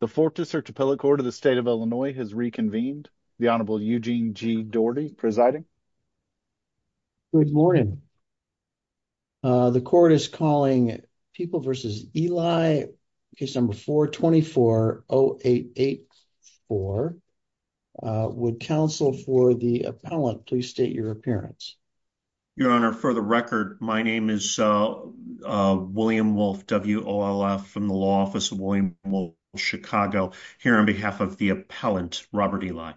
The Fort DeSert Appellate Court of the State of Illinois has reconvened. The Honorable Eugene G. Doherty presiding. Good morning. The court is calling People v. Ely, case number 424-0884. Would counsel for the appellant please state your appearance? Your Honor, for the record, my name is William Wolfe, W-O-L-F, from the Law Office of William W. Wolfe, Chicago, here on behalf of the appellant, Robert Ely.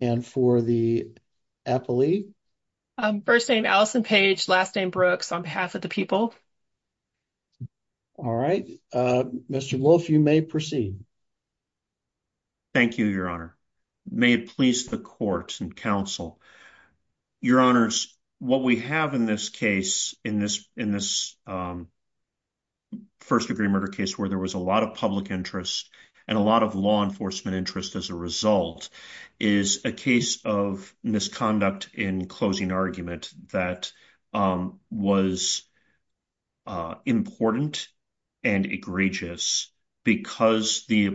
And for the appellee? First name Allison Page, last name Brooks, on behalf of the people. All right. Mr. Wolfe, you may proceed. Thank you, Your Honor. May it please the court and counsel. Your Honors, what we have in this case, in this first-degree murder case, where there was a lot of public interest and a lot of law enforcement interest as a result, is a case of misconduct in closing argument that was important and egregious because the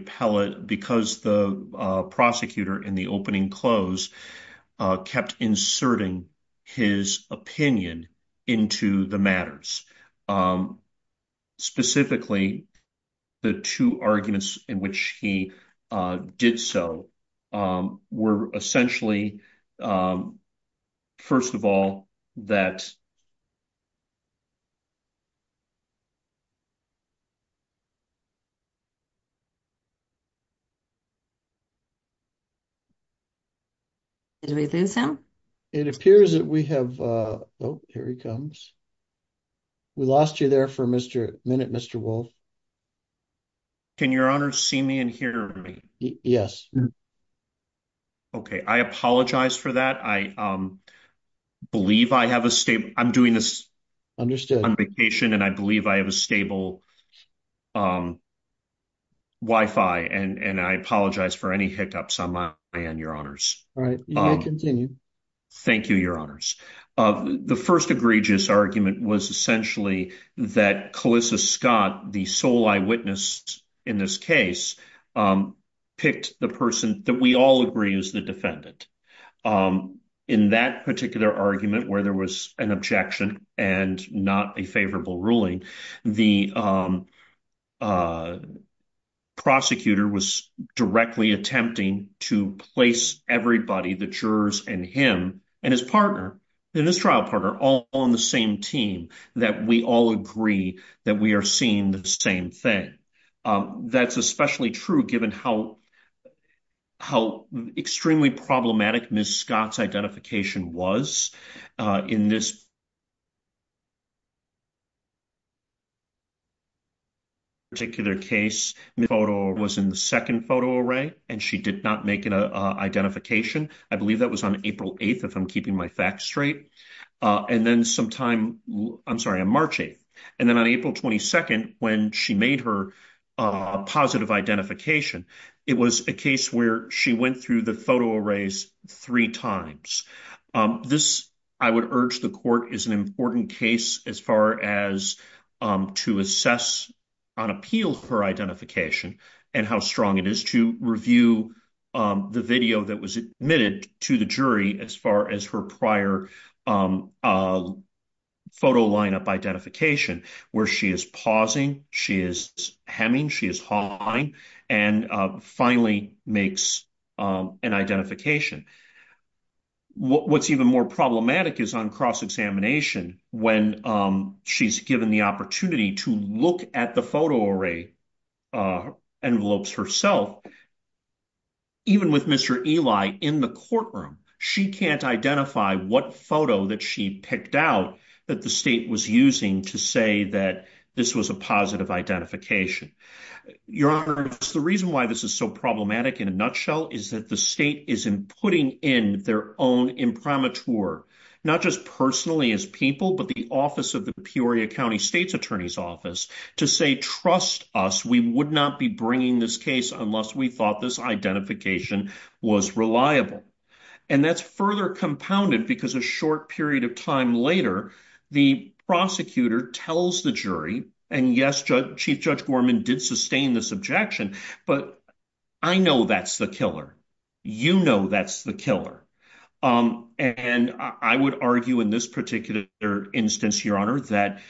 prosecutor in the opening close kept inserting his opinion into the matters. Specifically, the two arguments in which he did so were essentially, first of all, that Did we lose him? It appears that we have, oh, here he comes. We lost you there for a minute, Mr. Wolfe. Can Your Honors see me and hear me? Yes. Okay. I apologize for that. I believe I have a stable, I'm doing this on vacation and I believe I have a stable Wi-Fi and I apologize for any hiccups on my end, Your Honors. All right. You may continue. Thank you, Your Honors. The first egregious argument was essentially that Calissa Scott, the sole eyewitness in this case, picked the person that we all agree is the defendant. In that particular argument where there was an objection and not a favorable ruling, the prosecutor was directly attempting to place everybody, the jurors and him and his partner, and his trial partner, all on the same team, that we all agree that we are seeing the same thing. That's especially true given how extremely problematic Ms. Scott's identification was in this particular case. The photo was in the second photo array and she did not make an identification. I believe that was on April 8th, if I'm keeping my facts straight, and then sometime, I'm sorry, on March 8th. And then on April 22nd, when she made her positive identification, it was a case where she went through the photo arrays three times. This, I would urge the court, is an important case as far as to assess on appeal for identification and how strong it is to review the video that was admitted to the jury as far as her prior photo lineup identification, where she is pausing, she is hemming, she is hawing, and finally makes an identification. What's even more problematic is on cross-examination when she's given the look at the photo array envelopes herself, even with Mr. Eli in the courtroom, she can't identify what photo that she picked out that the state was using to say that this was a positive identification. Your Honor, the reason why this is so problematic in a nutshell is that the state isn't putting in their own imprimatur, not just personally as people, but the office of the Peoria County State's Attorney's Office, to say, trust us, we would not be bringing this case unless we thought this identification was reliable. And that's further compounded because a short period of time later, the prosecutor tells the jury, and yes, Chief Judge Gorman did sustain this objection, but I know that's the killer. You know that's the killer. And I would argue in this particular instance, Your Honor, that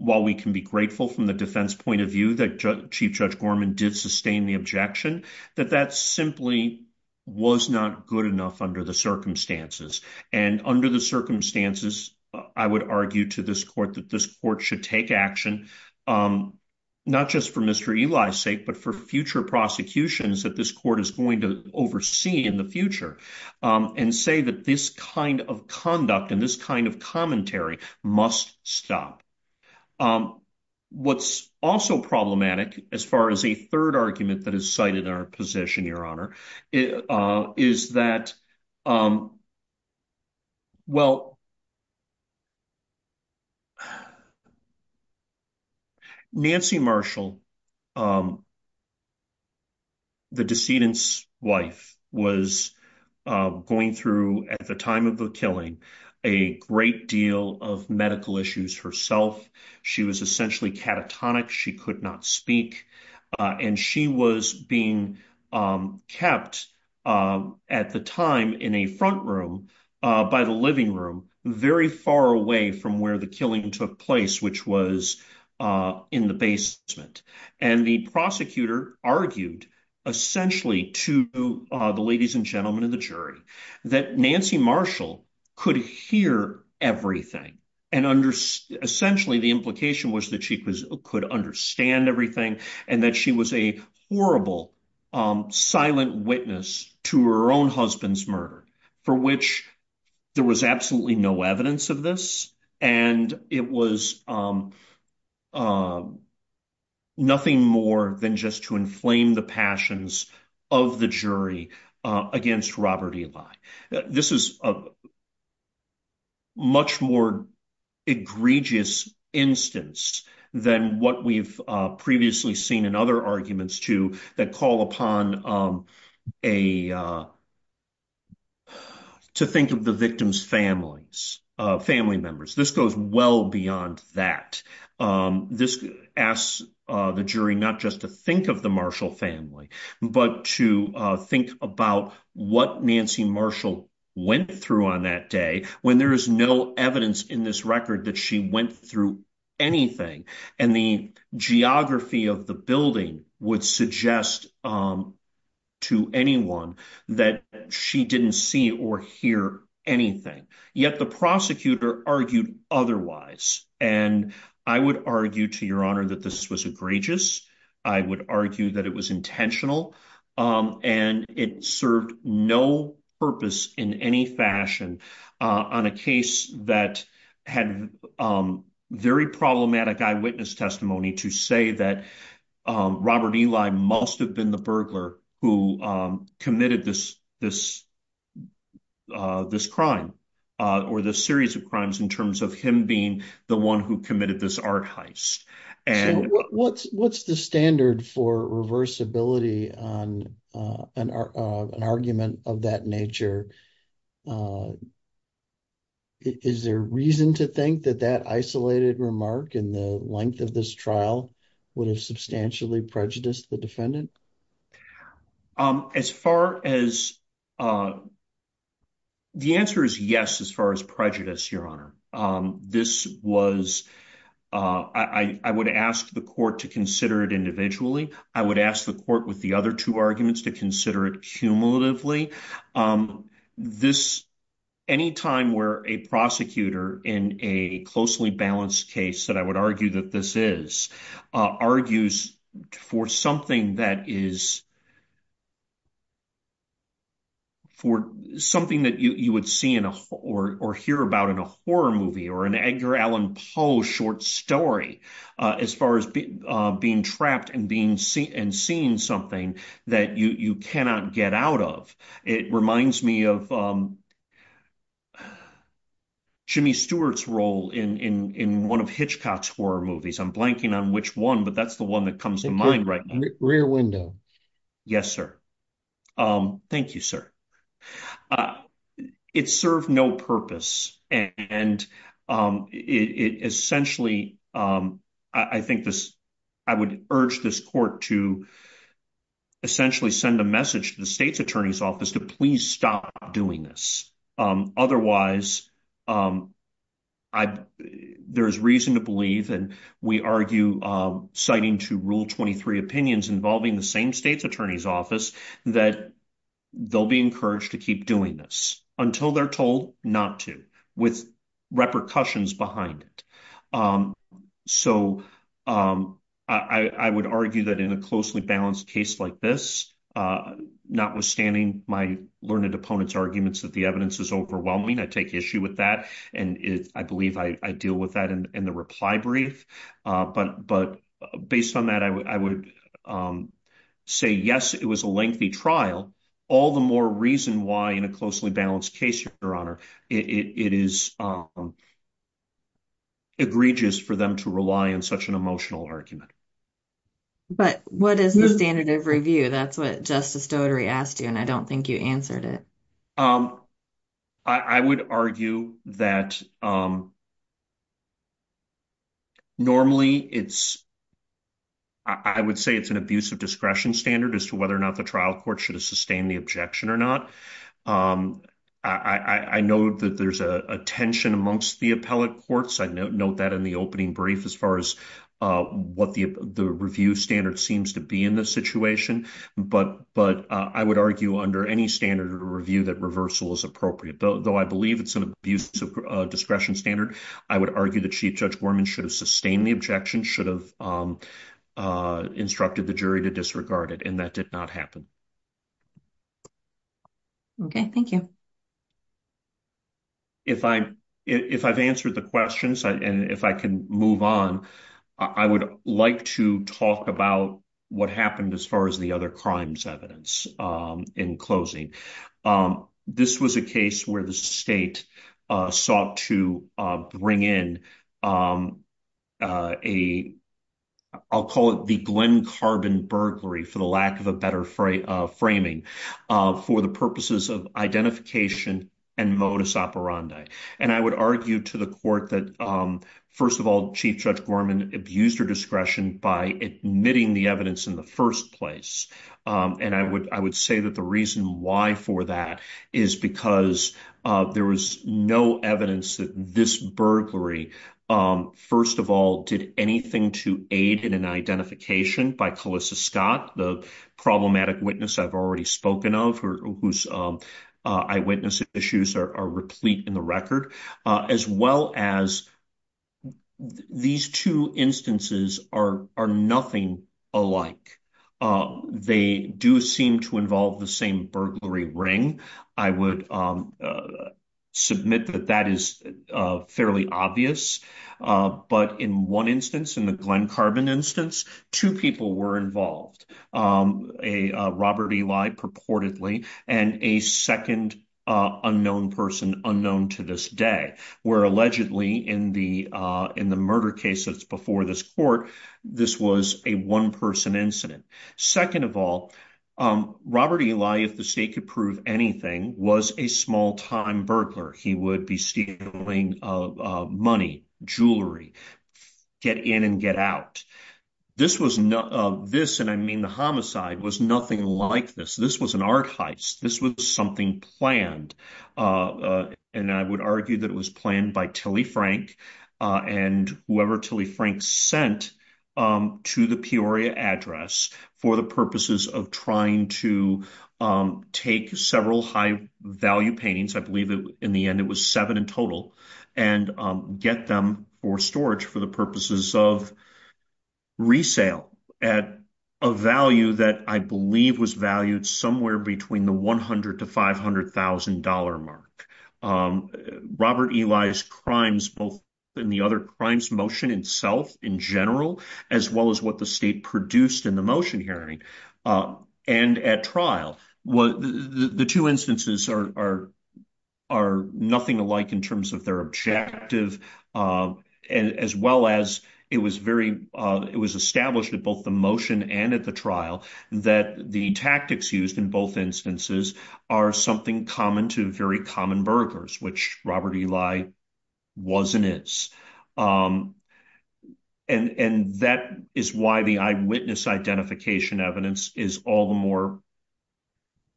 while we can be grateful from the defense point of view that Chief Judge Gorman did sustain the objection, that that simply was not good enough under the circumstances. And under the circumstances, I would argue to this court that this court should take action, not just for Mr. Eli's sake, but for future prosecutions that this court is going to oversee in the future and say that this kind of conduct and this kind of commentary must stop. What's also problematic as far as a third argument that is cited in our position, Your Honor, is that, well, Nancy Marshall, the decedent's wife, was going through, at the time of the killing, a great deal of medical issues herself. She was essentially catatonic. She could not speak. And she was being kept, at the time, in a front room by the living room, very far away from where the killing took place, which was in the basement. And the prosecutor argued essentially to the ladies and gentlemen of the jury that Nancy Marshall could hear everything. And essentially, the implication was that she could understand everything and that she was a horrible, silent witness to her own husband's murder, for which there was absolutely no evidence of this. And it was nothing more than just to inflame the passions of the jury against Robert Eli. This is a much more egregious instance than what we've previously seen in other arguments that call upon to think of the victim's family members. This goes well beyond that. This asks the jury not to think of the Marshall family, but to think about what Nancy Marshall went through on that day, when there is no evidence in this record that she went through anything. And the geography of the building would suggest to anyone that she didn't see or hear anything. Yet the prosecutor argued otherwise. And I would argue, to your honor, that this was egregious. I would argue that it was intentional. And it served no purpose in any fashion on a case that had very problematic eyewitness testimony to say that Robert Eli must have been the burglar who committed this crime, or this series of crimes in terms of him being the one who committed this art heist. What's the standard for reversibility on an argument of that nature? Is there reason to think that that isolated remark in the length of this trial would have substantially prejudiced the defendant? The answer is yes, as far as prejudice, your honor. I would ask the court to consider it individually. I would ask the court with the other two arguments to consider it cumulatively. Any time where a prosecutor in a closely balanced case that I would argue that this is, argues for something that you would see or hear about in a horror movie or an Edgar Allan Poe short story, as far as being trapped and seeing something that you cannot get out of, it reminds me of Jimmy Stewart's role in one of Hitchcock's horror movies. I'm blanking on which one, but that's the one that comes to mind right now. Rear window. Yes, sir. Thank you, sir. It served no purpose. And it essentially, I think this, I would urge this court to essentially send a message to the state's attorney's office to please stop doing this. Otherwise, there's reason to believe, and we argue, citing to rule 23 opinions involving the same state's attorney's office, that they'll be encouraged to keep doing this until they're told not to, with repercussions behind it. So I would argue that in a closely balanced case like this, notwithstanding my learned opponent's arguments that the evidence is overwhelming, I take issue with that. And I believe I deal with that in the reply brief. But based on that, I would say, yes, it was a lengthy trial. All the more reason why in a closely balanced case, Your Honor, it is egregious for them to rely on such an emotional argument. But what is the standard of review? That's what Justice Doty asked you, and I don't think you answered it. I would argue that normally it's, I would say it's an abuse of discretion standard as to whether or not the court should have sustained the objection or not. I know that there's a tension amongst the appellate courts. I note that in the opening brief as far as what the review standard seems to be in this situation. But I would argue under any standard of review that reversal is appropriate. Though I believe it's an abuse of discretion standard, I would argue that Chief Judge Gorman should have sustained the objection, should have instructed the jury to disregard it, and that did not happen. Okay, thank you. If I've answered the questions and if I can move on, I would like to talk about what happened as far as the other crimes evidence in closing. This was a case where the state sought to bring in a, I'll call it the Glen Carbon burglary, for the lack of a better framing, for the purposes of identification and modus operandi. And I would argue to the court that, first of all, Chief Judge Gorman abused her discretion by admitting the evidence in the first place. And I would say that the reason why for that is because there was no evidence that this burglary, first of all, did anything to aid in an identification by Calissa Scott, the problematic witness I've already spoken of, whose eyewitness issues are replete in the record, as well as these two instances are nothing alike. They do seem to involve the same burglary ring. I would submit that that is fairly obvious. But in one instance, in the Glen Carbon instance, two people were involved, Robert Eli purportedly, and a second unknown person, unknown to this day, where allegedly in the murder case that's before this court, this was a one-person incident. Second of all, Robert Eli, if the state could prove anything, was a small-time burglar. He would be stealing money, jewelry, get in and get out. This was not, this, and I mean the homicide, was nothing like this. This was an art heist. This was something planned. And I would argue that it was planned by Tilly Frank and whoever Tilly Frank sent to the Peoria address for the purposes of trying to take several high-value paintings, I believe in the end it was seven in total, and get them for storage for the purposes of resale at a value that I believe was valued somewhere between the $100,000 to $500,000 mark. Robert Eli's crimes, both in the other crimes motion itself in general, as well as what the state produced in the motion hearing and at trial, the two instances are nothing alike in terms of their objective, as well as it was very, it was established at both the motion and at the trial that the tactics used in both instances are something common to very common burglars, which Robert Eli was and is. And that is why the eyewitness identification evidence is all the more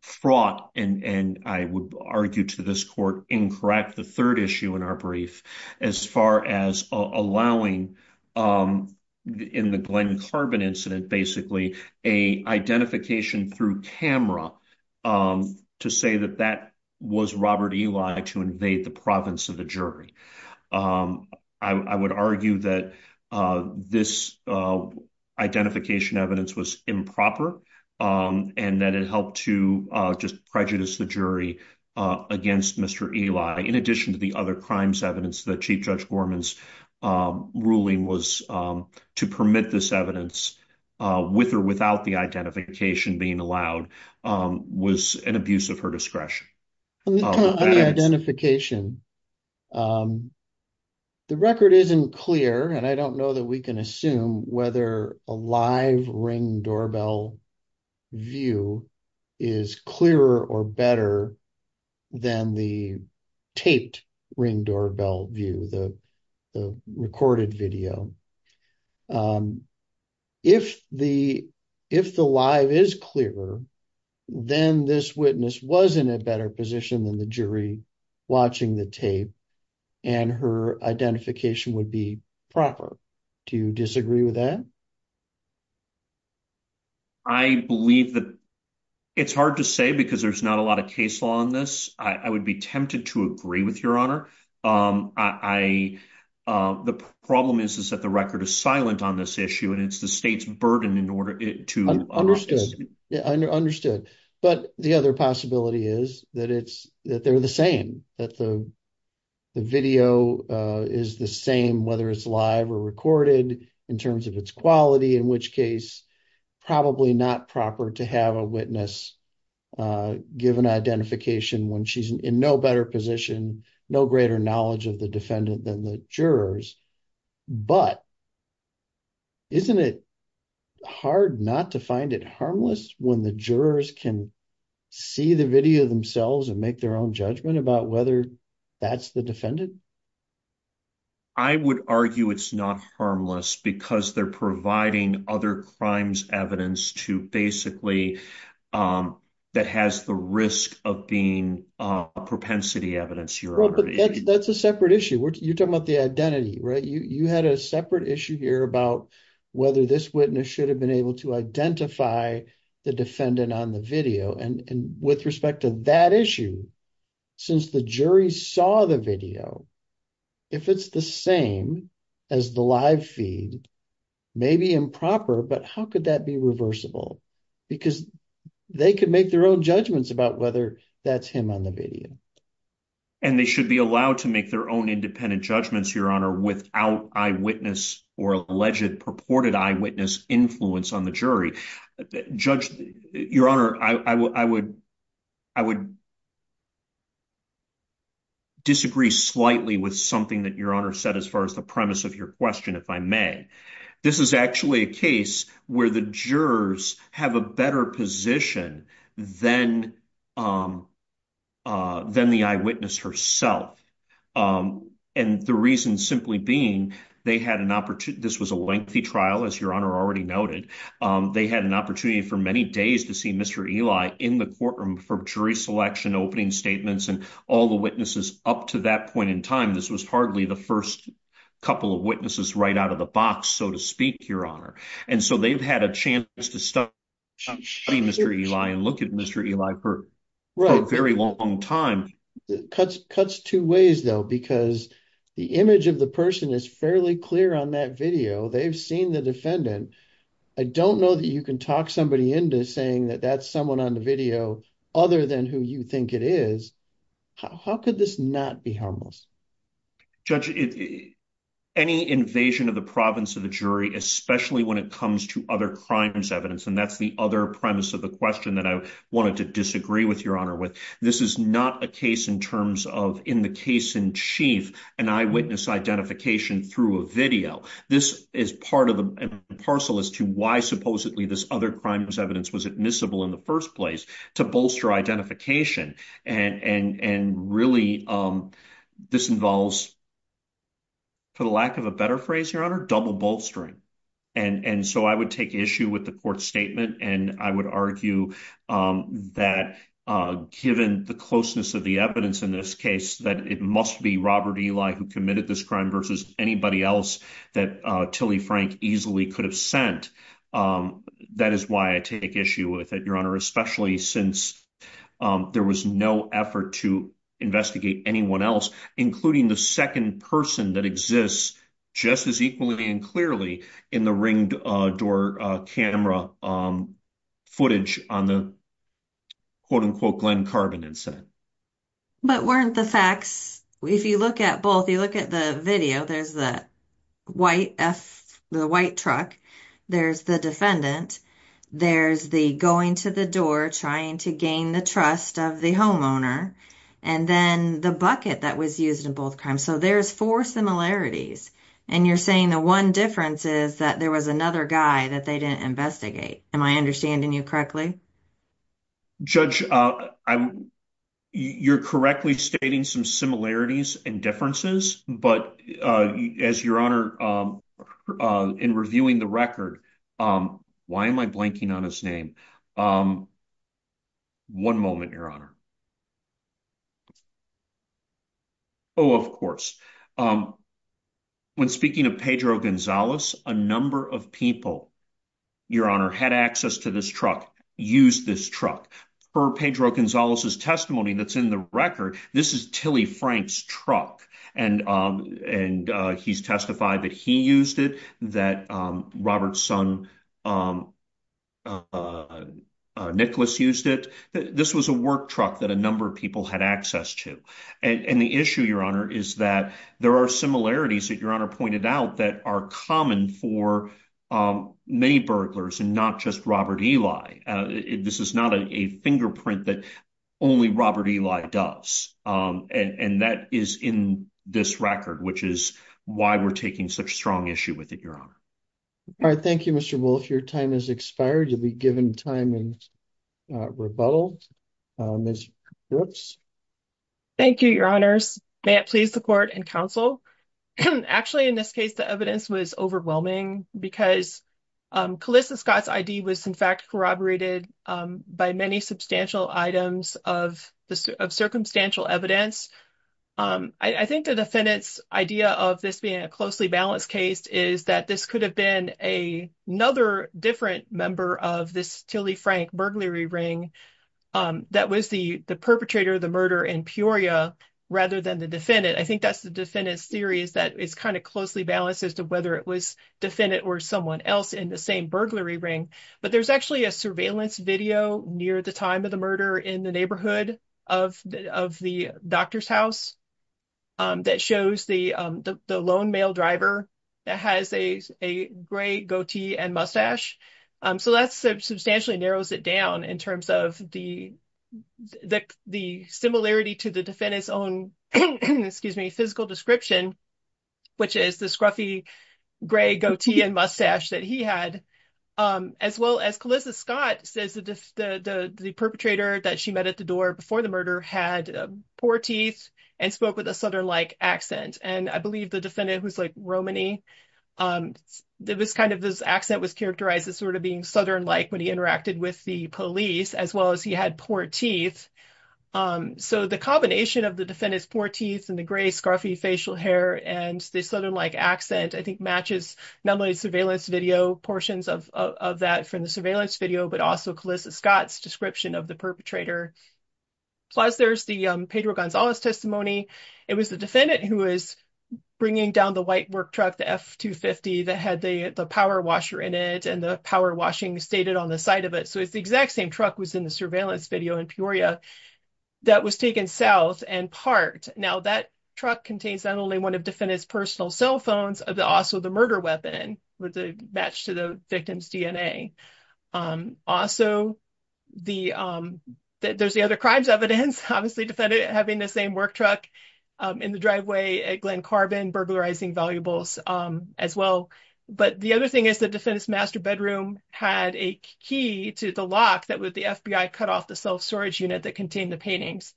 fraught, and I would argue to this court, incorrect the third issue in our brief, as far as allowing, in the Glen Carbon incident basically, a identification through camera to say that that was Robert Eli to invade the province of the jury. I would argue that this identification evidence was improper, and that it helped to just prejudice the jury against Mr. Eli, in addition to the other crimes evidence that Chief Judge Gorman's ruling was to permit this evidence with or without the identification being allowed, was an abuse of her discretion. On the identification, the record isn't clear, and I don't know that we can assume whether a live ring doorbell view is clearer or better than the taped ring doorbell view, the recorded video. If the live is clearer, then this witness was in a better position than the jury watching the tape, and her identification would be proper. Do you disagree with that? I believe that it's hard to say because there's not a lot of case law on this. I would be tempted to agree with your honor. The problem is that the record is silent on this issue, and it's the state's burden in order to... Understood, understood. But the other possibility is that they're the same, that the video is the same, whether it's live or recorded, in terms of its quality, in which case, probably not proper to have a witness give an identification when she's in no better position, no greater knowledge of the defendant than the jurors. But isn't it hard not to find it harmless when the jurors can see the video themselves and make their own judgment about whether that's the defendant? I would argue it's not harmless because they're providing other crimes evidence to basically, that has the risk of being propensity evidence, your honor. That's a separate issue. You're talking about the identity, right? You had a separate issue here about whether this witness should have been able to identify the defendant on the video. And with respect to that issue, since the jury saw the video, if it's the same as the live feed, maybe improper, but how could that be reversible? Because they could make their own judgments about whether that's him on the video. And they should be allowed to make their own independent judgments, your honor, without eyewitness or alleged purported eyewitness influence on the jury. Judge, your honor, I would disagree slightly with something that your honor said as far as the premise of your question, if I may. This is actually a case where the jurors have a better position than the eyewitness herself. And the reason simply being they had this was a lengthy trial, as your honor already noted. They had an opportunity for many days to see Mr. Eli in the courtroom for jury selection, opening statements, and all the witnesses up to that point in time. This was hardly the first couple of witnesses right out of the box, so to speak, your honor. And so they've had a chance to study Mr. Eli and look at Mr. Eli for a very long time. It cuts two ways, though, because the image of the person is fairly clear on that video. They've seen the defendant. I don't know that you can talk somebody into saying that that's someone on the video other than who you think it is. How could this not be harmless? Judge, any invasion of the province of the jury, especially when it comes to other crimes evidence, and that's the other premise of the question that I wanted to disagree with your honor with, this is not a case in terms of in the case in chief, an eyewitness identification through a video. This is part of the parcel as to why supposedly this other crimes evidence was admissible in the first place to bolster identification. And really, this involves, for the lack of a better phrase, your honor, double bolstering. And so I would take issue with the court statement. And I would argue that given the closeness of the evidence in this case, that it must be Robert Eli who committed this crime versus anybody else that Tilly Frank easily could have sent. That is why I take issue with it, your honor, especially since there was no effort to investigate anyone else, including the second person that exists just as equally and clearly in the ring door camera footage on the quote unquote Glen Carbon incident. But weren't the facts, if you look at both, you look at the video, there's the white truck, there's the defendant, there's the going to the door, trying to gain the trust of the homeowner, and then the bucket that was used in both crimes. So there's four similarities. And you're saying the one difference is that there was another guy that they didn't investigate. Am I understanding you correctly? Judge, you're correctly stating some similarities and differences. But as your honor, in reviewing the record, why am I blanking on his name? One moment, your honor. Oh, of course. When speaking of Pedro Gonzalez, a number of people, your honor, had access to this truck, used this truck. For Pedro Gonzalez's testimony that's in the record, this is Tilly Frank's truck. And he's testified that he used it, that Robert's son, Nicholas used it. This was a truck that a number of people had access to. And the issue, your honor, is that there are similarities that your honor pointed out that are common for many burglars and not just Robert Eli. This is not a fingerprint that only Robert Eli does. And that is in this record, which is why we're taking such strong issue with it, your honor. All right. Thank you, Mr. Wolf. Your time has expired. You'll be given time in rebuttal. Ms. Brooks? Thank you, your honors. May it please the court and counsel. Actually, in this case, the evidence was overwhelming because Calissa Scott's ID was in fact corroborated by many substantial items of circumstantial evidence. I think the defendant's idea of this being a closely balanced case is that this could have been another different of this Tilly Frank burglary ring that was the perpetrator of the murder in Peoria rather than the defendant. I think that's the defendant's theory is that it's kind of closely balanced as to whether it was defendant or someone else in the same burglary ring. But there's actually a surveillance video near the time of the murder in the neighborhood of the doctor's house that shows the lone male driver that has a gray goatee and mustache. So that substantially narrows it down in terms of the similarity to the defendant's own physical description, which is the scruffy gray goatee and mustache that he had, as well as Calissa Scott says the perpetrator that she met at the door before the murder had poor teeth and spoke with a Southern-like accent. I believe the defendant was Romany. It was kind of this accent was characterized as sort of being Southern-like when he interacted with the police, as well as he had poor teeth. So the combination of the defendant's poor teeth and the gray scruffy facial hair and the Southern-like accent, I think matches not only surveillance video portions of that from the surveillance video, but also Calissa Scott's description of the perpetrator. Plus there's the Pedro Gonzalez testimony. It was the defendant who is bringing down the white work truck, the F-250 that had the power washer in it and the power washing stated on the side of it. So it's the exact same truck was in the surveillance video in Peoria that was taken south and parked. Now that truck contains not only one of defendant's personal cell phones, but also the murder weapon with the match to the victim's DNA. Also there's the other Glen Carbon burglarizing valuables as well. But the other thing is the defendant's master bedroom had a key to the lock that would the FBI cut off the self-storage unit that contained the paintings.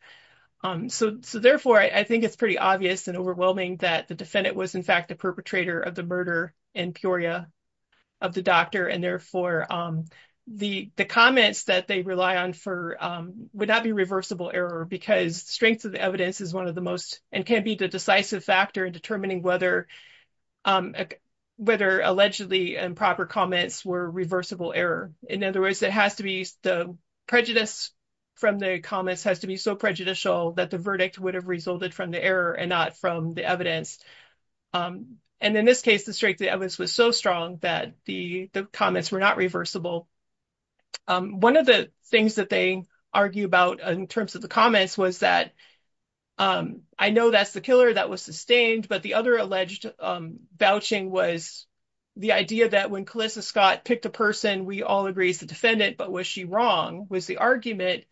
So therefore I think it's pretty obvious and overwhelming that the defendant was in fact the perpetrator of the murder in Peoria of the doctor. And therefore the comments that they rely on for would not be reversible error because strength of the evidence is one of the most and can be the decisive factor in determining whether allegedly improper comments were reversible error. In other words, it has to be the prejudice from the comments has to be so prejudicial that the verdict would have resulted from the error and not from the evidence. And in this case, the strength of the evidence was so strong that the comments were not reversible. One of the argue about in terms of the comments was that I know that's the killer that was sustained, but the other alleged vouching was the idea that when Calissa Scott picked a person, we all agree is the defendant, but was she wrong was the argument.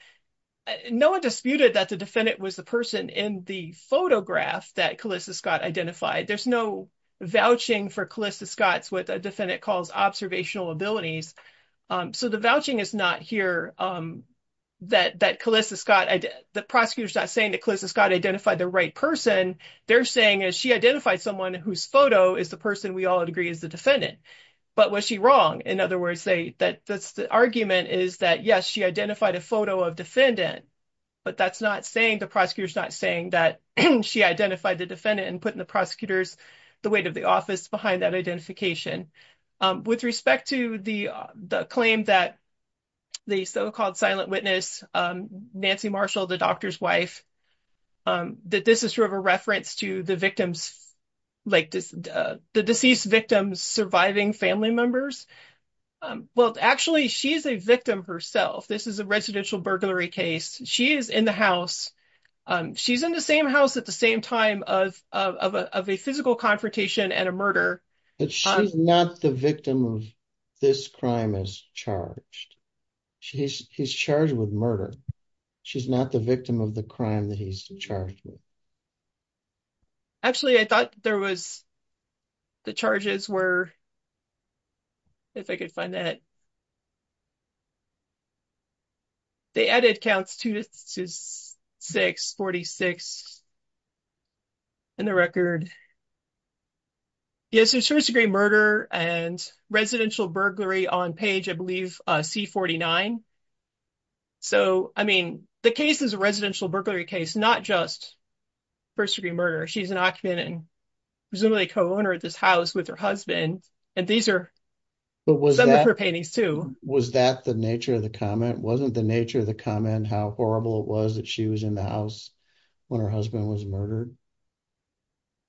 No one disputed that the defendant was the person in the photograph that Calissa Scott identified. There's no vouching for Calissa Scott's with a defendant calls observational abilities. So the vouching is not here that that Calissa Scott, the prosecutors not saying that Calissa Scott identified the right person. They're saying is she identified someone whose photo is the person we all agree is the defendant. But was she wrong? In other words, say that that's the argument is that, yes, she identified a photo of defendant, but that's not saying the prosecutors not saying that she identified the defendant and put in the prosecutors the weight of the office behind that identification. With respect to the claim that the so-called silent witness, Nancy Marshall, the doctor's wife, that this is sort of a reference to the victims, like the deceased victims surviving family members. Well, actually, she's a victim herself. This is a residential burglary case. She is in the house. She's in the same house at the same time of of a physical confrontation and a murder. But she's not the victim of this crime as charged. She's he's charged with murder. She's not the victim of the crime that he's charged with. Actually, I thought there was the charges were if I could find that. They added counts to six forty six. And the record. Yes, it's first degree murder and residential burglary on page, I believe, C-49. So, I mean, the case is a residential burglary case, not just first degree murder. She's an occupant and presumably co-owner of this house with her husband. And these are some of her paintings, too. Was that the nature of the comment? Wasn't the nature of the comment how horrible it was that she was in the house when her husband was murdered?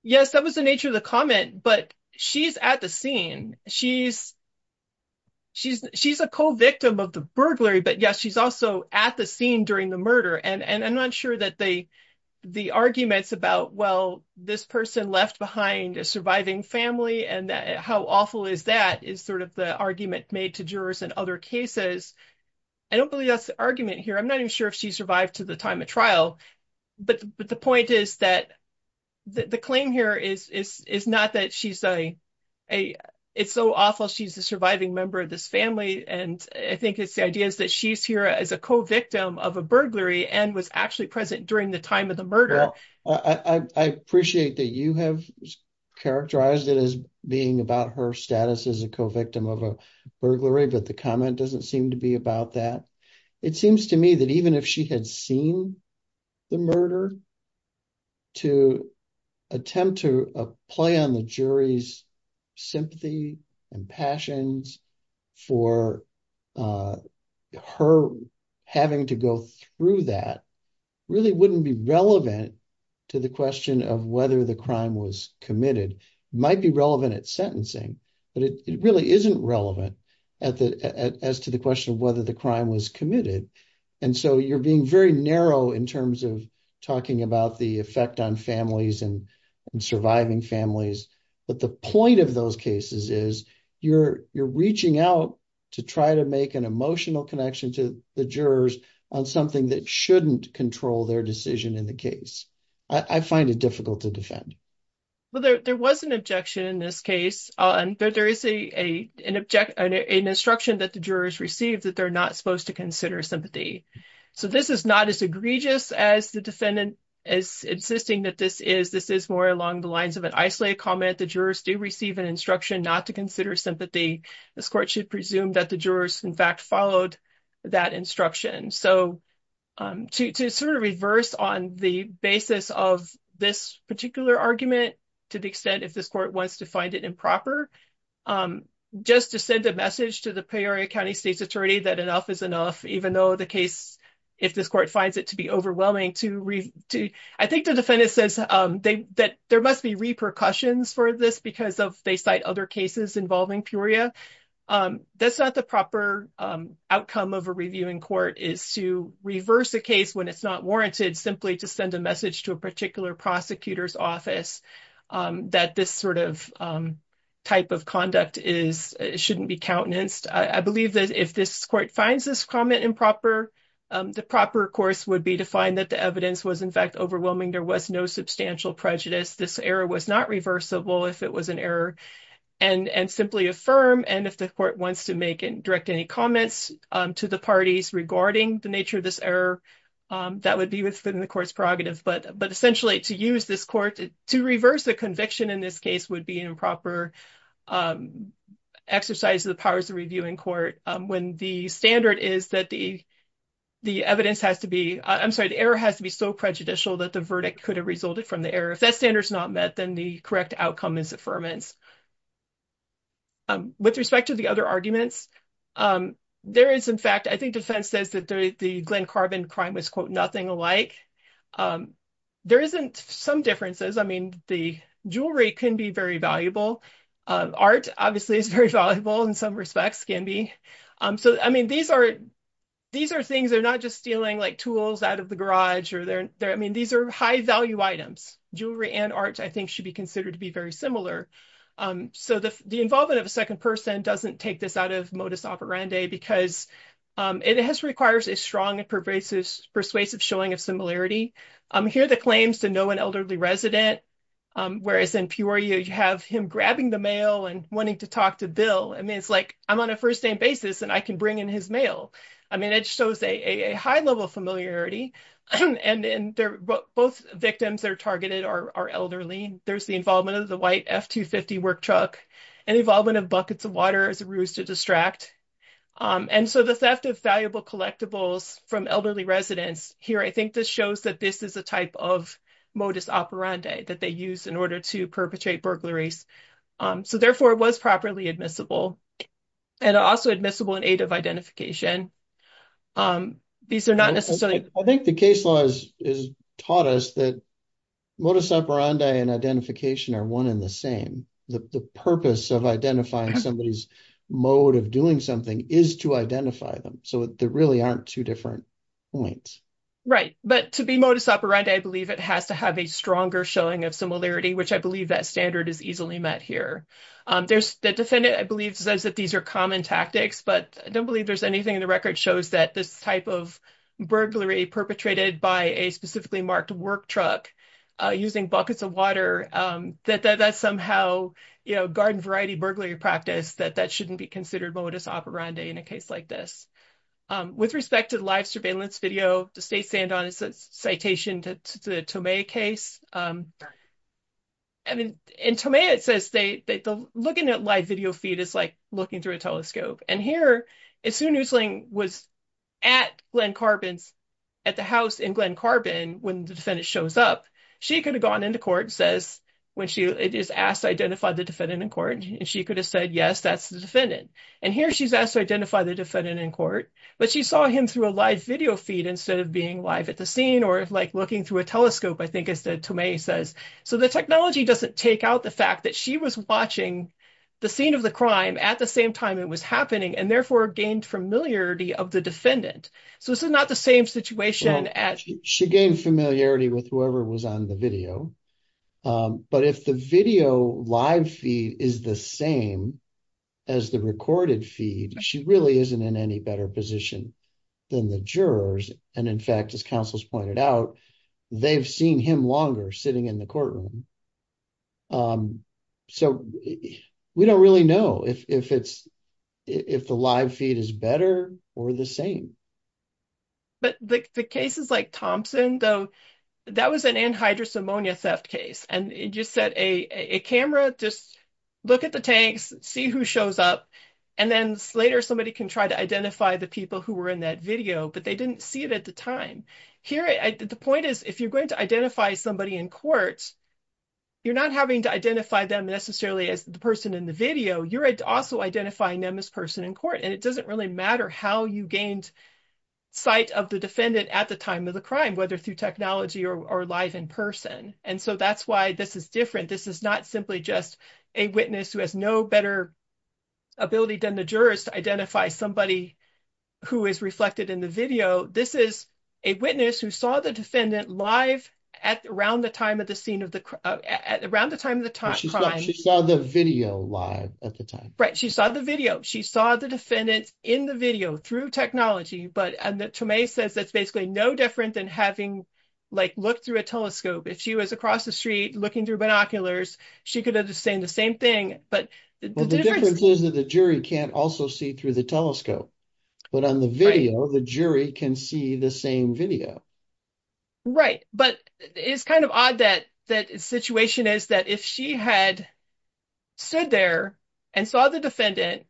Yes, that was the nature of the comment, but she's at the scene. She's she's she's a co-victim of the burglary. But yes, she's also at the scene during the murder. And I'm not sure that they the arguments about, well, this person left behind a surviving family and how awful is that is sort of the argument made to jurors in other cases. I don't believe that's the argument here. I'm not even sure if she survived to the time of trial. But the point is that the claim here is is is not that she's a a it's so awful. She's a surviving member of this family. And I think it's the idea is that she's here as a co-victim of a burglary and was actually present during the time of the murder. I appreciate that you have characterized it as being about her status as co-victim of a burglary, but the comment doesn't seem to be about that. It seems to me that even if she had seen the murder. To attempt to play on the jury's sympathy and passions for her having to go through that really wouldn't be relevant to the question of whether the crime was committed might be relevant at sentencing, but it really isn't relevant at the as to the question of whether the crime was committed. And so you're being very narrow in terms of talking about the effect on families and surviving families. But the point of those cases is you're you're reaching out to try to make an emotional connection to the jurors on something that shouldn't control their in the case. I find it difficult to defend. Well, there was an objection in this case on that there is a an object an instruction that the jurors received that they're not supposed to consider sympathy. So this is not as egregious as the defendant is insisting that this is this is more along the lines of an isolated comment. The jurors do receive an instruction not to consider sympathy. This court should presume that the jurors in fact followed that instruction. So to sort of reverse on the basis of this particular argument, to the extent if this court wants to find it improper, just to send a message to the Peoria County State's attorney that enough is enough, even though the case, if this court finds it to be overwhelming to I think the defendant says that there must be repercussions for this because of they cite other cases involving Peoria. That's not the proper outcome of a reviewing court is to reverse a case when it's not warranted simply to send a message to a particular prosecutor's office that this sort of type of conduct is shouldn't be countenanced. I believe that if this court finds this comment improper, the proper course would be to find that the evidence was in fact overwhelming. There was no substantial prejudice. This error was not reversible if it was an error and and simply affirm. And if the court wants to make and direct any comments to the parties regarding the nature of this error, that would be within the court's prerogative. But essentially to use this court to reverse the conviction in this case would be an improper exercise of the powers of reviewing court when the standard is that the the evidence has to be, I'm sorry, the error has to be so prejudicial that the verdict could have resulted from the error. If that standard is not met, then the correct outcome is affirmance. With respect to the other arguments, there is in fact, I think defense says that the Glen Carbon crime was quote nothing alike. There isn't some differences. I mean, the jewelry can be very valuable. Art obviously is very valuable in some respects can be. So I mean, these are these are things they're not just stealing like tools out of the garage or they're there. I mean, these are high value items. Jewelry and art, I think, should be considered to be very similar. So the involvement of a second person doesn't take this out of modus operandi because it has requires a strong and pervasive, persuasive showing of similarity. Here, the claims to know an elderly resident, whereas in Peoria, you have him grabbing the mail and wanting to talk to Bill. I mean, it's like I'm on a first name basis and I can bring in his mail. I mean, it shows a high level of familiarity. And then they're both victims that are targeted are elderly. There's the involvement of the white F-250 work truck and involvement of buckets of water as a ruse to distract. And so the theft of valuable collectibles from elderly residents here, I think this shows that this is a type of modus operandi that they use in order to perpetrate burglaries. So therefore, it was properly admissible and also admissible in identification. These are not necessarily... I think the case law has taught us that modus operandi and identification are one in the same. The purpose of identifying somebody's mode of doing something is to identify them. So there really aren't two different points. Right. But to be modus operandi, I believe it has to have a stronger showing of similarity, which I believe that standard is easily met here. There's the defendant, I believe, says that these are common tactics, but I don't believe there's anything in the record shows that this type of burglary perpetrated by a specifically marked work truck using buckets of water, that somehow, you know, garden variety burglary practice, that that shouldn't be considered modus operandi in a case like this. With respect to the live surveillance video, to stay sand on a citation to the Tomei case. I mean, in Tomei, it says they... Looking at live video feed is like looking through a telescope. And here, as soon as Nguyen was at Glen Carbon's, at the house in Glen Carbon, when the defendant shows up, she could have gone into court, says, when she is asked to identify the defendant in court, and she could have said, yes, that's the defendant. And here she's asked to identify the defendant in court, but she saw him through a live video feed instead of being live at the scene or like looking through a telescope, I think, as the Tomei says. So the technology doesn't take out the fact that she was watching the scene of the crime at the same time it was happening and therefore gained familiarity of the defendant. So this is not the same situation as... She gained familiarity with whoever was on the video. But if the video live feed is the same as the recorded feed, she really isn't in any better position than the jurors. And in fact, as counsels pointed out, they've seen him longer sitting in the courtroom. So we don't really know if the live feed is better or the same. But the cases like Thompson, though, that was an anhydrous ammonia theft case. And it just said, a camera, just look at the tanks, see who shows up, and then later somebody can try to identify the people who were in that video. But they didn't see it at the time. Here, the point is, if you're going to identify somebody in court, you're not having to identify them necessarily as the person in the video. You're also identifying them as person in court. And it doesn't really matter how you gained sight of the defendant at the time of the crime, whether through technology or live in person. And so that's why this is different. This is not simply just a witness who has no better ability than the jurors to identify somebody who is reflected in the video. This is a witness who saw the defendant live around the time of the crime. She saw the video live at the time. Right. She saw the video. She saw the defendant in the video through technology. But Tomei says that's basically no different than having like looked through a telescope. If she was across the street looking through binoculars, she could understand the same thing. But the difference is that the jury can't also see through the telescope. But on the video, the jury can see the same video. Right. But it's kind of odd that that situation is that if she had stood there and saw the defendant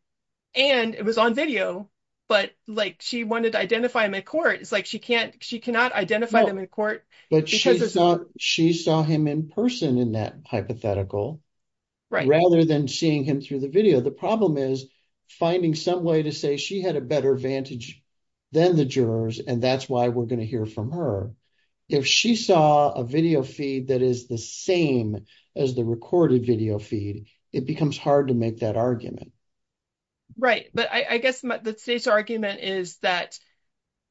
and it was on video, but like she wanted to identify him in court, it's like she can't she cannot identify them in court. But she thought she saw him in person in that hypothetical rather than seeing him through the video. The problem is finding some way to say she had a better advantage than the jurors. And that's why we're going to hear from her. If she saw a video feed that is the same as the recorded video feed, it becomes hard to make that argument. Right. But I guess the argument is that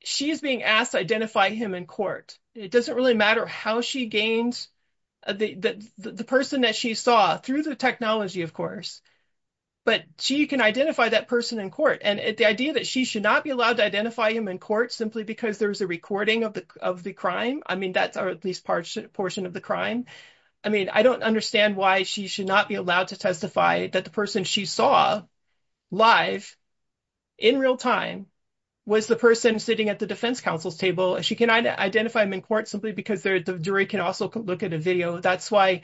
she is being asked to identify him in court. It doesn't really matter how she gains the person that she saw through the technology, of course, but she can identify that person in court. And the idea that she should not be allowed to identify him in court simply because there was a recording of the of the crime. I mean, that's at least part portion of the crime. I mean, I don't understand why she should not be allowed to testify that the person she saw live in real time was the person sitting at the defense counsel's table. She can identify him in court simply because the jury can also look at a video. That's why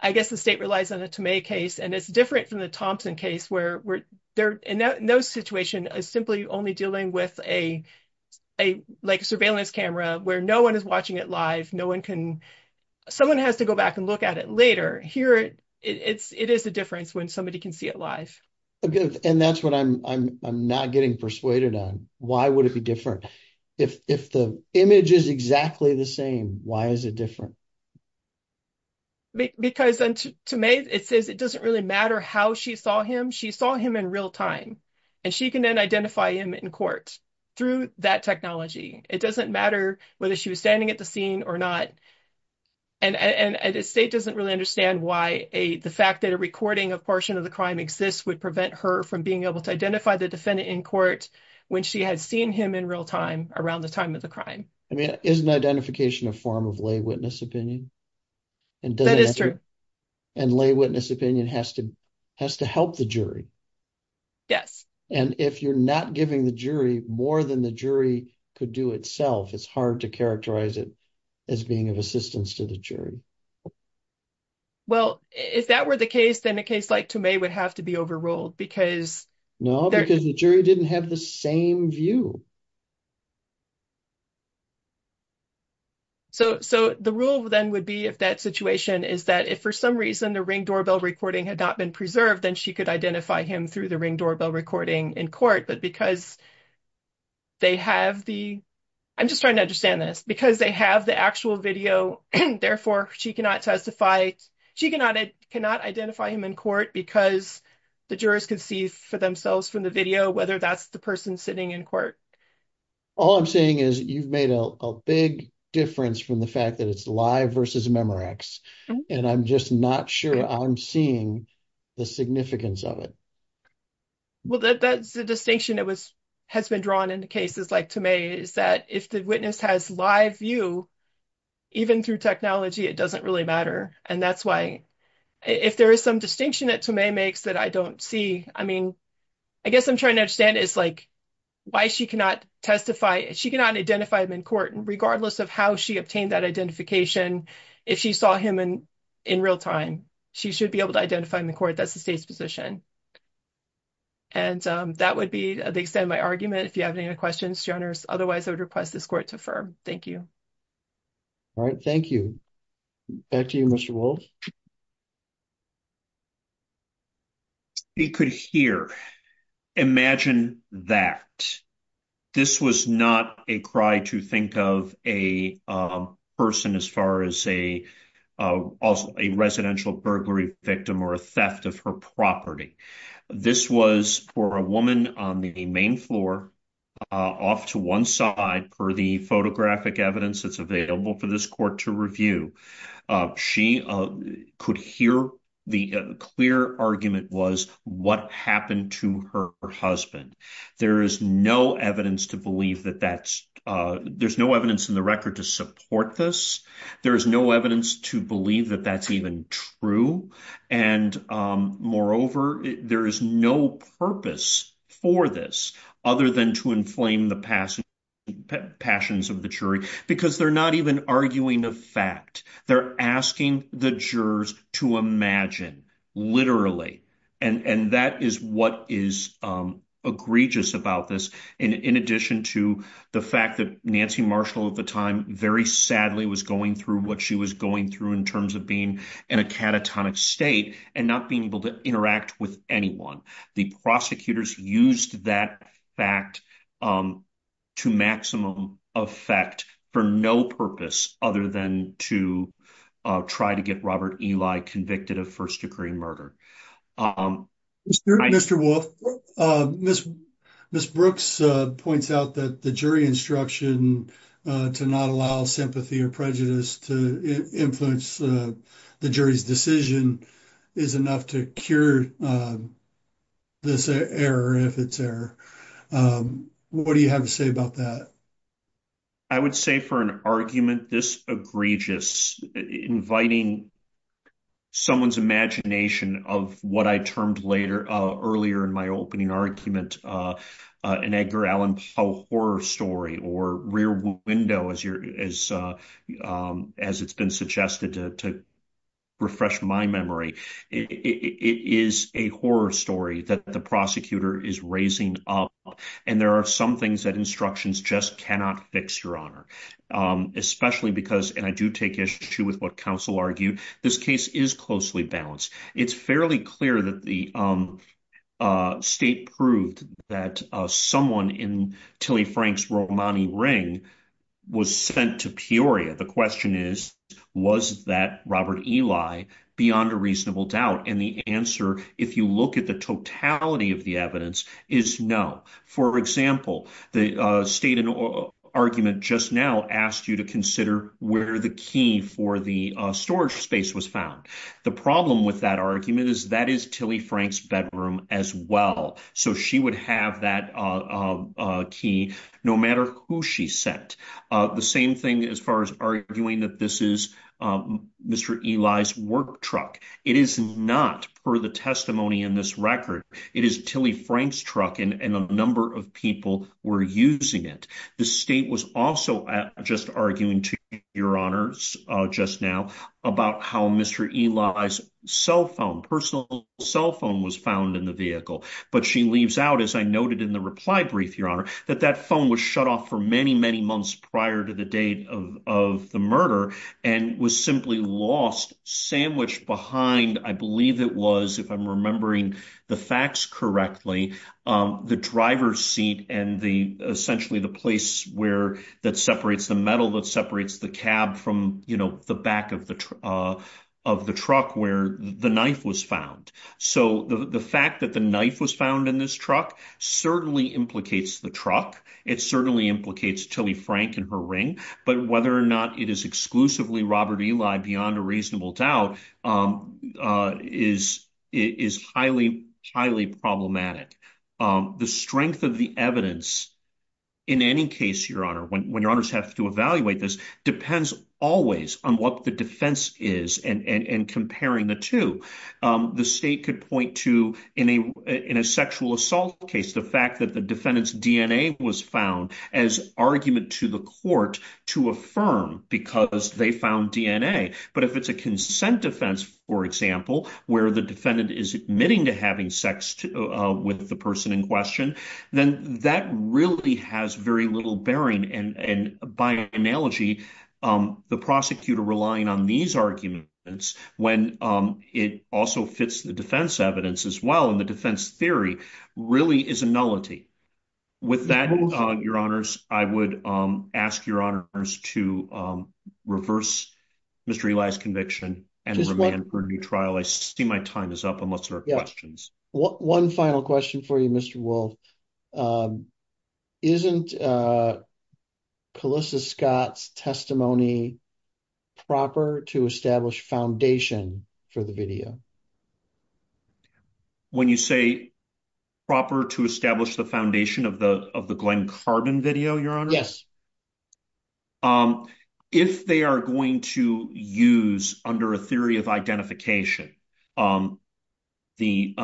I guess the state relies on a Tomei case. And it's different from the Thompson case where they're in those situation is simply only dealing with a like surveillance camera where no one is watching it live. No one can someone has to go back and look at it later here. It's it is a difference when somebody can see it live. And that's what I'm not getting persuaded on. Why would it be different if the image is exactly the same? Why is it different? Because to me, it says it doesn't really matter how she saw him. She saw him in real time and she can then identify him in court through that technology. It doesn't matter whether she was standing at the scene or not. And the state doesn't really understand why the fact that a recording of portion of the crime exists would prevent her from being able to identify the defendant in court when she had seen him in real time around the time of the crime. I mean, isn't identification a form of lay witness opinion? And that is true. And lay witness opinion has to has to help the jury. Yes. And if you're not giving the jury more than the jury could do itself, it's hard to characterize it as being assistance to the jury. Well, if that were the case, then a case like to me would have to be overruled because no, because the jury didn't have the same view. So so the rule then would be if that situation is that if for some reason the ring doorbell recording had not been preserved, then she could identify him through the ring doorbell recording in court. But because they have the I'm just trying to understand this because they have the actual video. Therefore, she cannot testify. She cannot cannot identify him in court because the jurors could see for themselves from the video whether that's the person sitting in court. All I'm saying is you've made a big difference from the fact that it's live versus a Memorex. And I'm just not sure I'm seeing the significance of it. Well, that's the distinction that was has been drawn into cases like to me is that if the witness has live view, even through technology, it doesn't really matter. And that's why if there is some distinction that to me makes that I don't see. I mean, I guess I'm trying to understand is like why she cannot testify. She cannot identify him in court, regardless of how she obtained that identification. If she saw him in in real time, she should be able to identify in the court. That's the state's position. And that would be the extent of my request this court to affirm. Thank you. All right. Thank you. Back to you, Mr. Wold. You could hear. Imagine that this was not a cry to think of a person as far as a residential burglary victim or a theft of her property. This was for a woman on the main floor off to one side for the photographic evidence that's available for this court to review. She could hear the clear argument was what happened to her husband. There is no evidence to believe that that's there's no evidence in the record to support this. There is no evidence to believe that that's even true. And moreover, there is no purpose for this other than to inflame the past passions of the jury, because they're not even arguing the fact they're asking the jurors to imagine literally. And that is what is egregious about this. In addition to the fact that Nancy Marshall at the time, very sadly, was going through what she was going through in terms of being in a catatonic state and not being able to interact with anyone. The prosecutors used that fact to maximum effect for no purpose other than to try to get Robert Eli convicted of first degree murder. Mr. Wolf, Miss Brooks points out that jury instruction to not allow sympathy or prejudice to influence the jury's decision is enough to cure this error if it's error. What do you have to say about that? I would say for an argument this egregious, inviting someone's imagination of what I termed earlier in my opening argument, an Edgar Allan Poe horror story or rear window, as it's been suggested to refresh my memory. It is a horror story that the prosecutor is raising up. And there are some things that instructions just cannot fix, Your Honor, especially because, and I do take issue with what counsel argued, this case is closely balanced. It's fairly clear that the state proved that someone in Tilly Frank's Romani ring was sent to Peoria. The question is, was that Robert Eli beyond a reasonable doubt? And the answer, if you look at the totality of the evidence, is no. For example, the state argument just now asked you to consider where the key for the storage space was found. The problem with that argument is that is Tilly Frank's bedroom as well. So she would have that key no matter who she sent. The same thing as far as arguing that this is Mr. Eli's work truck. It is not per the testimony in this record. It is Tilly Frank's truck and a number of people were using it. The state was also just arguing to Your Honors just now about how Mr. Eli's cell phone, personal cell phone, was found in the vehicle. But she leaves out, as I noted in the reply brief, Your Honor, that that phone was shut off for many, many months prior to the date of the murder and was simply lost, sandwiched behind, I believe it was, if I'm remembering the facts correctly, the driver's seat and the, essentially, the place where that separates the metal, that separates the cab from, you know, the back of the truck where the knife was found. So the fact that the knife was found in this truck certainly implicates the truck. It certainly implicates Tilly Frank and her ring. But whether or not it is exclusively Robert Eli, beyond a reasonable doubt, is highly, highly in any case, Your Honor, when Your Honors have to evaluate this, depends always on what the defense is and comparing the two. The state could point to, in a sexual assault case, the fact that the defendant's DNA was found as argument to the court to affirm because they found DNA. But if it's a consent defense, for example, where the defendant is admitting to having sex with the person in question, then that really has very little bearing. And by analogy, the prosecutor relying on these arguments, when it also fits the defense evidence as well, and the defense theory, really is a nullity. With that, Your Honors, I would ask Your Honors to reverse Mr. Eli's conviction and remand for a new trial. I see my time is up unless there are questions. One final question for you, Mr. Wolfe. Isn't Calissa Scott's testimony proper to establish foundation for the video? When you say proper to establish the foundation of the Glenn Carden video, Your Honor? If they are going to use, under a theory of identification, the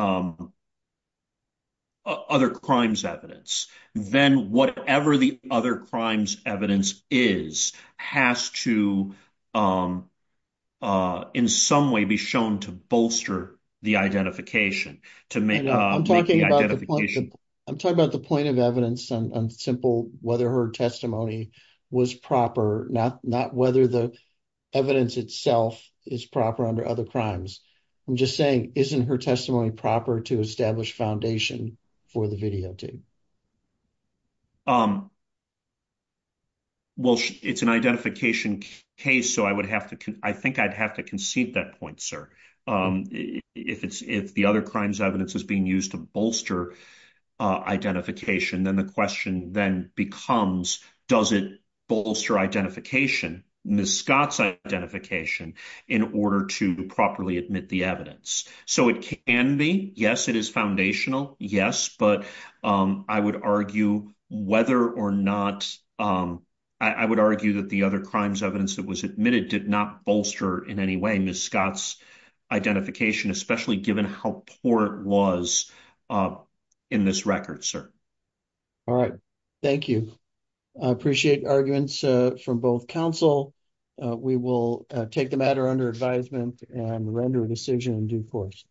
other crimes evidence, then whatever the other crimes evidence is has to in some way be shown to bolster the identification. I'm talking about the point of simple whether her testimony was proper, not whether the evidence itself is proper under other crimes. I'm just saying, isn't her testimony proper to establish foundation for the video, too? It's an identification case, so I think I'd have to concede that point, sir. If the other crimes evidence is being used to bolster identification, then the question then becomes, does it bolster identification, Ms. Scott's identification, in order to properly admit the evidence? It can be. Yes, it is foundational. Yes, but I would argue that the other crimes evidence that was admitted did not bolster in any way Ms. Scott's identification, especially given how poor it was in this record, sir. All right. Thank you. I appreciate arguments from both counsel. We will take the matter under advisement and render a decision in due course.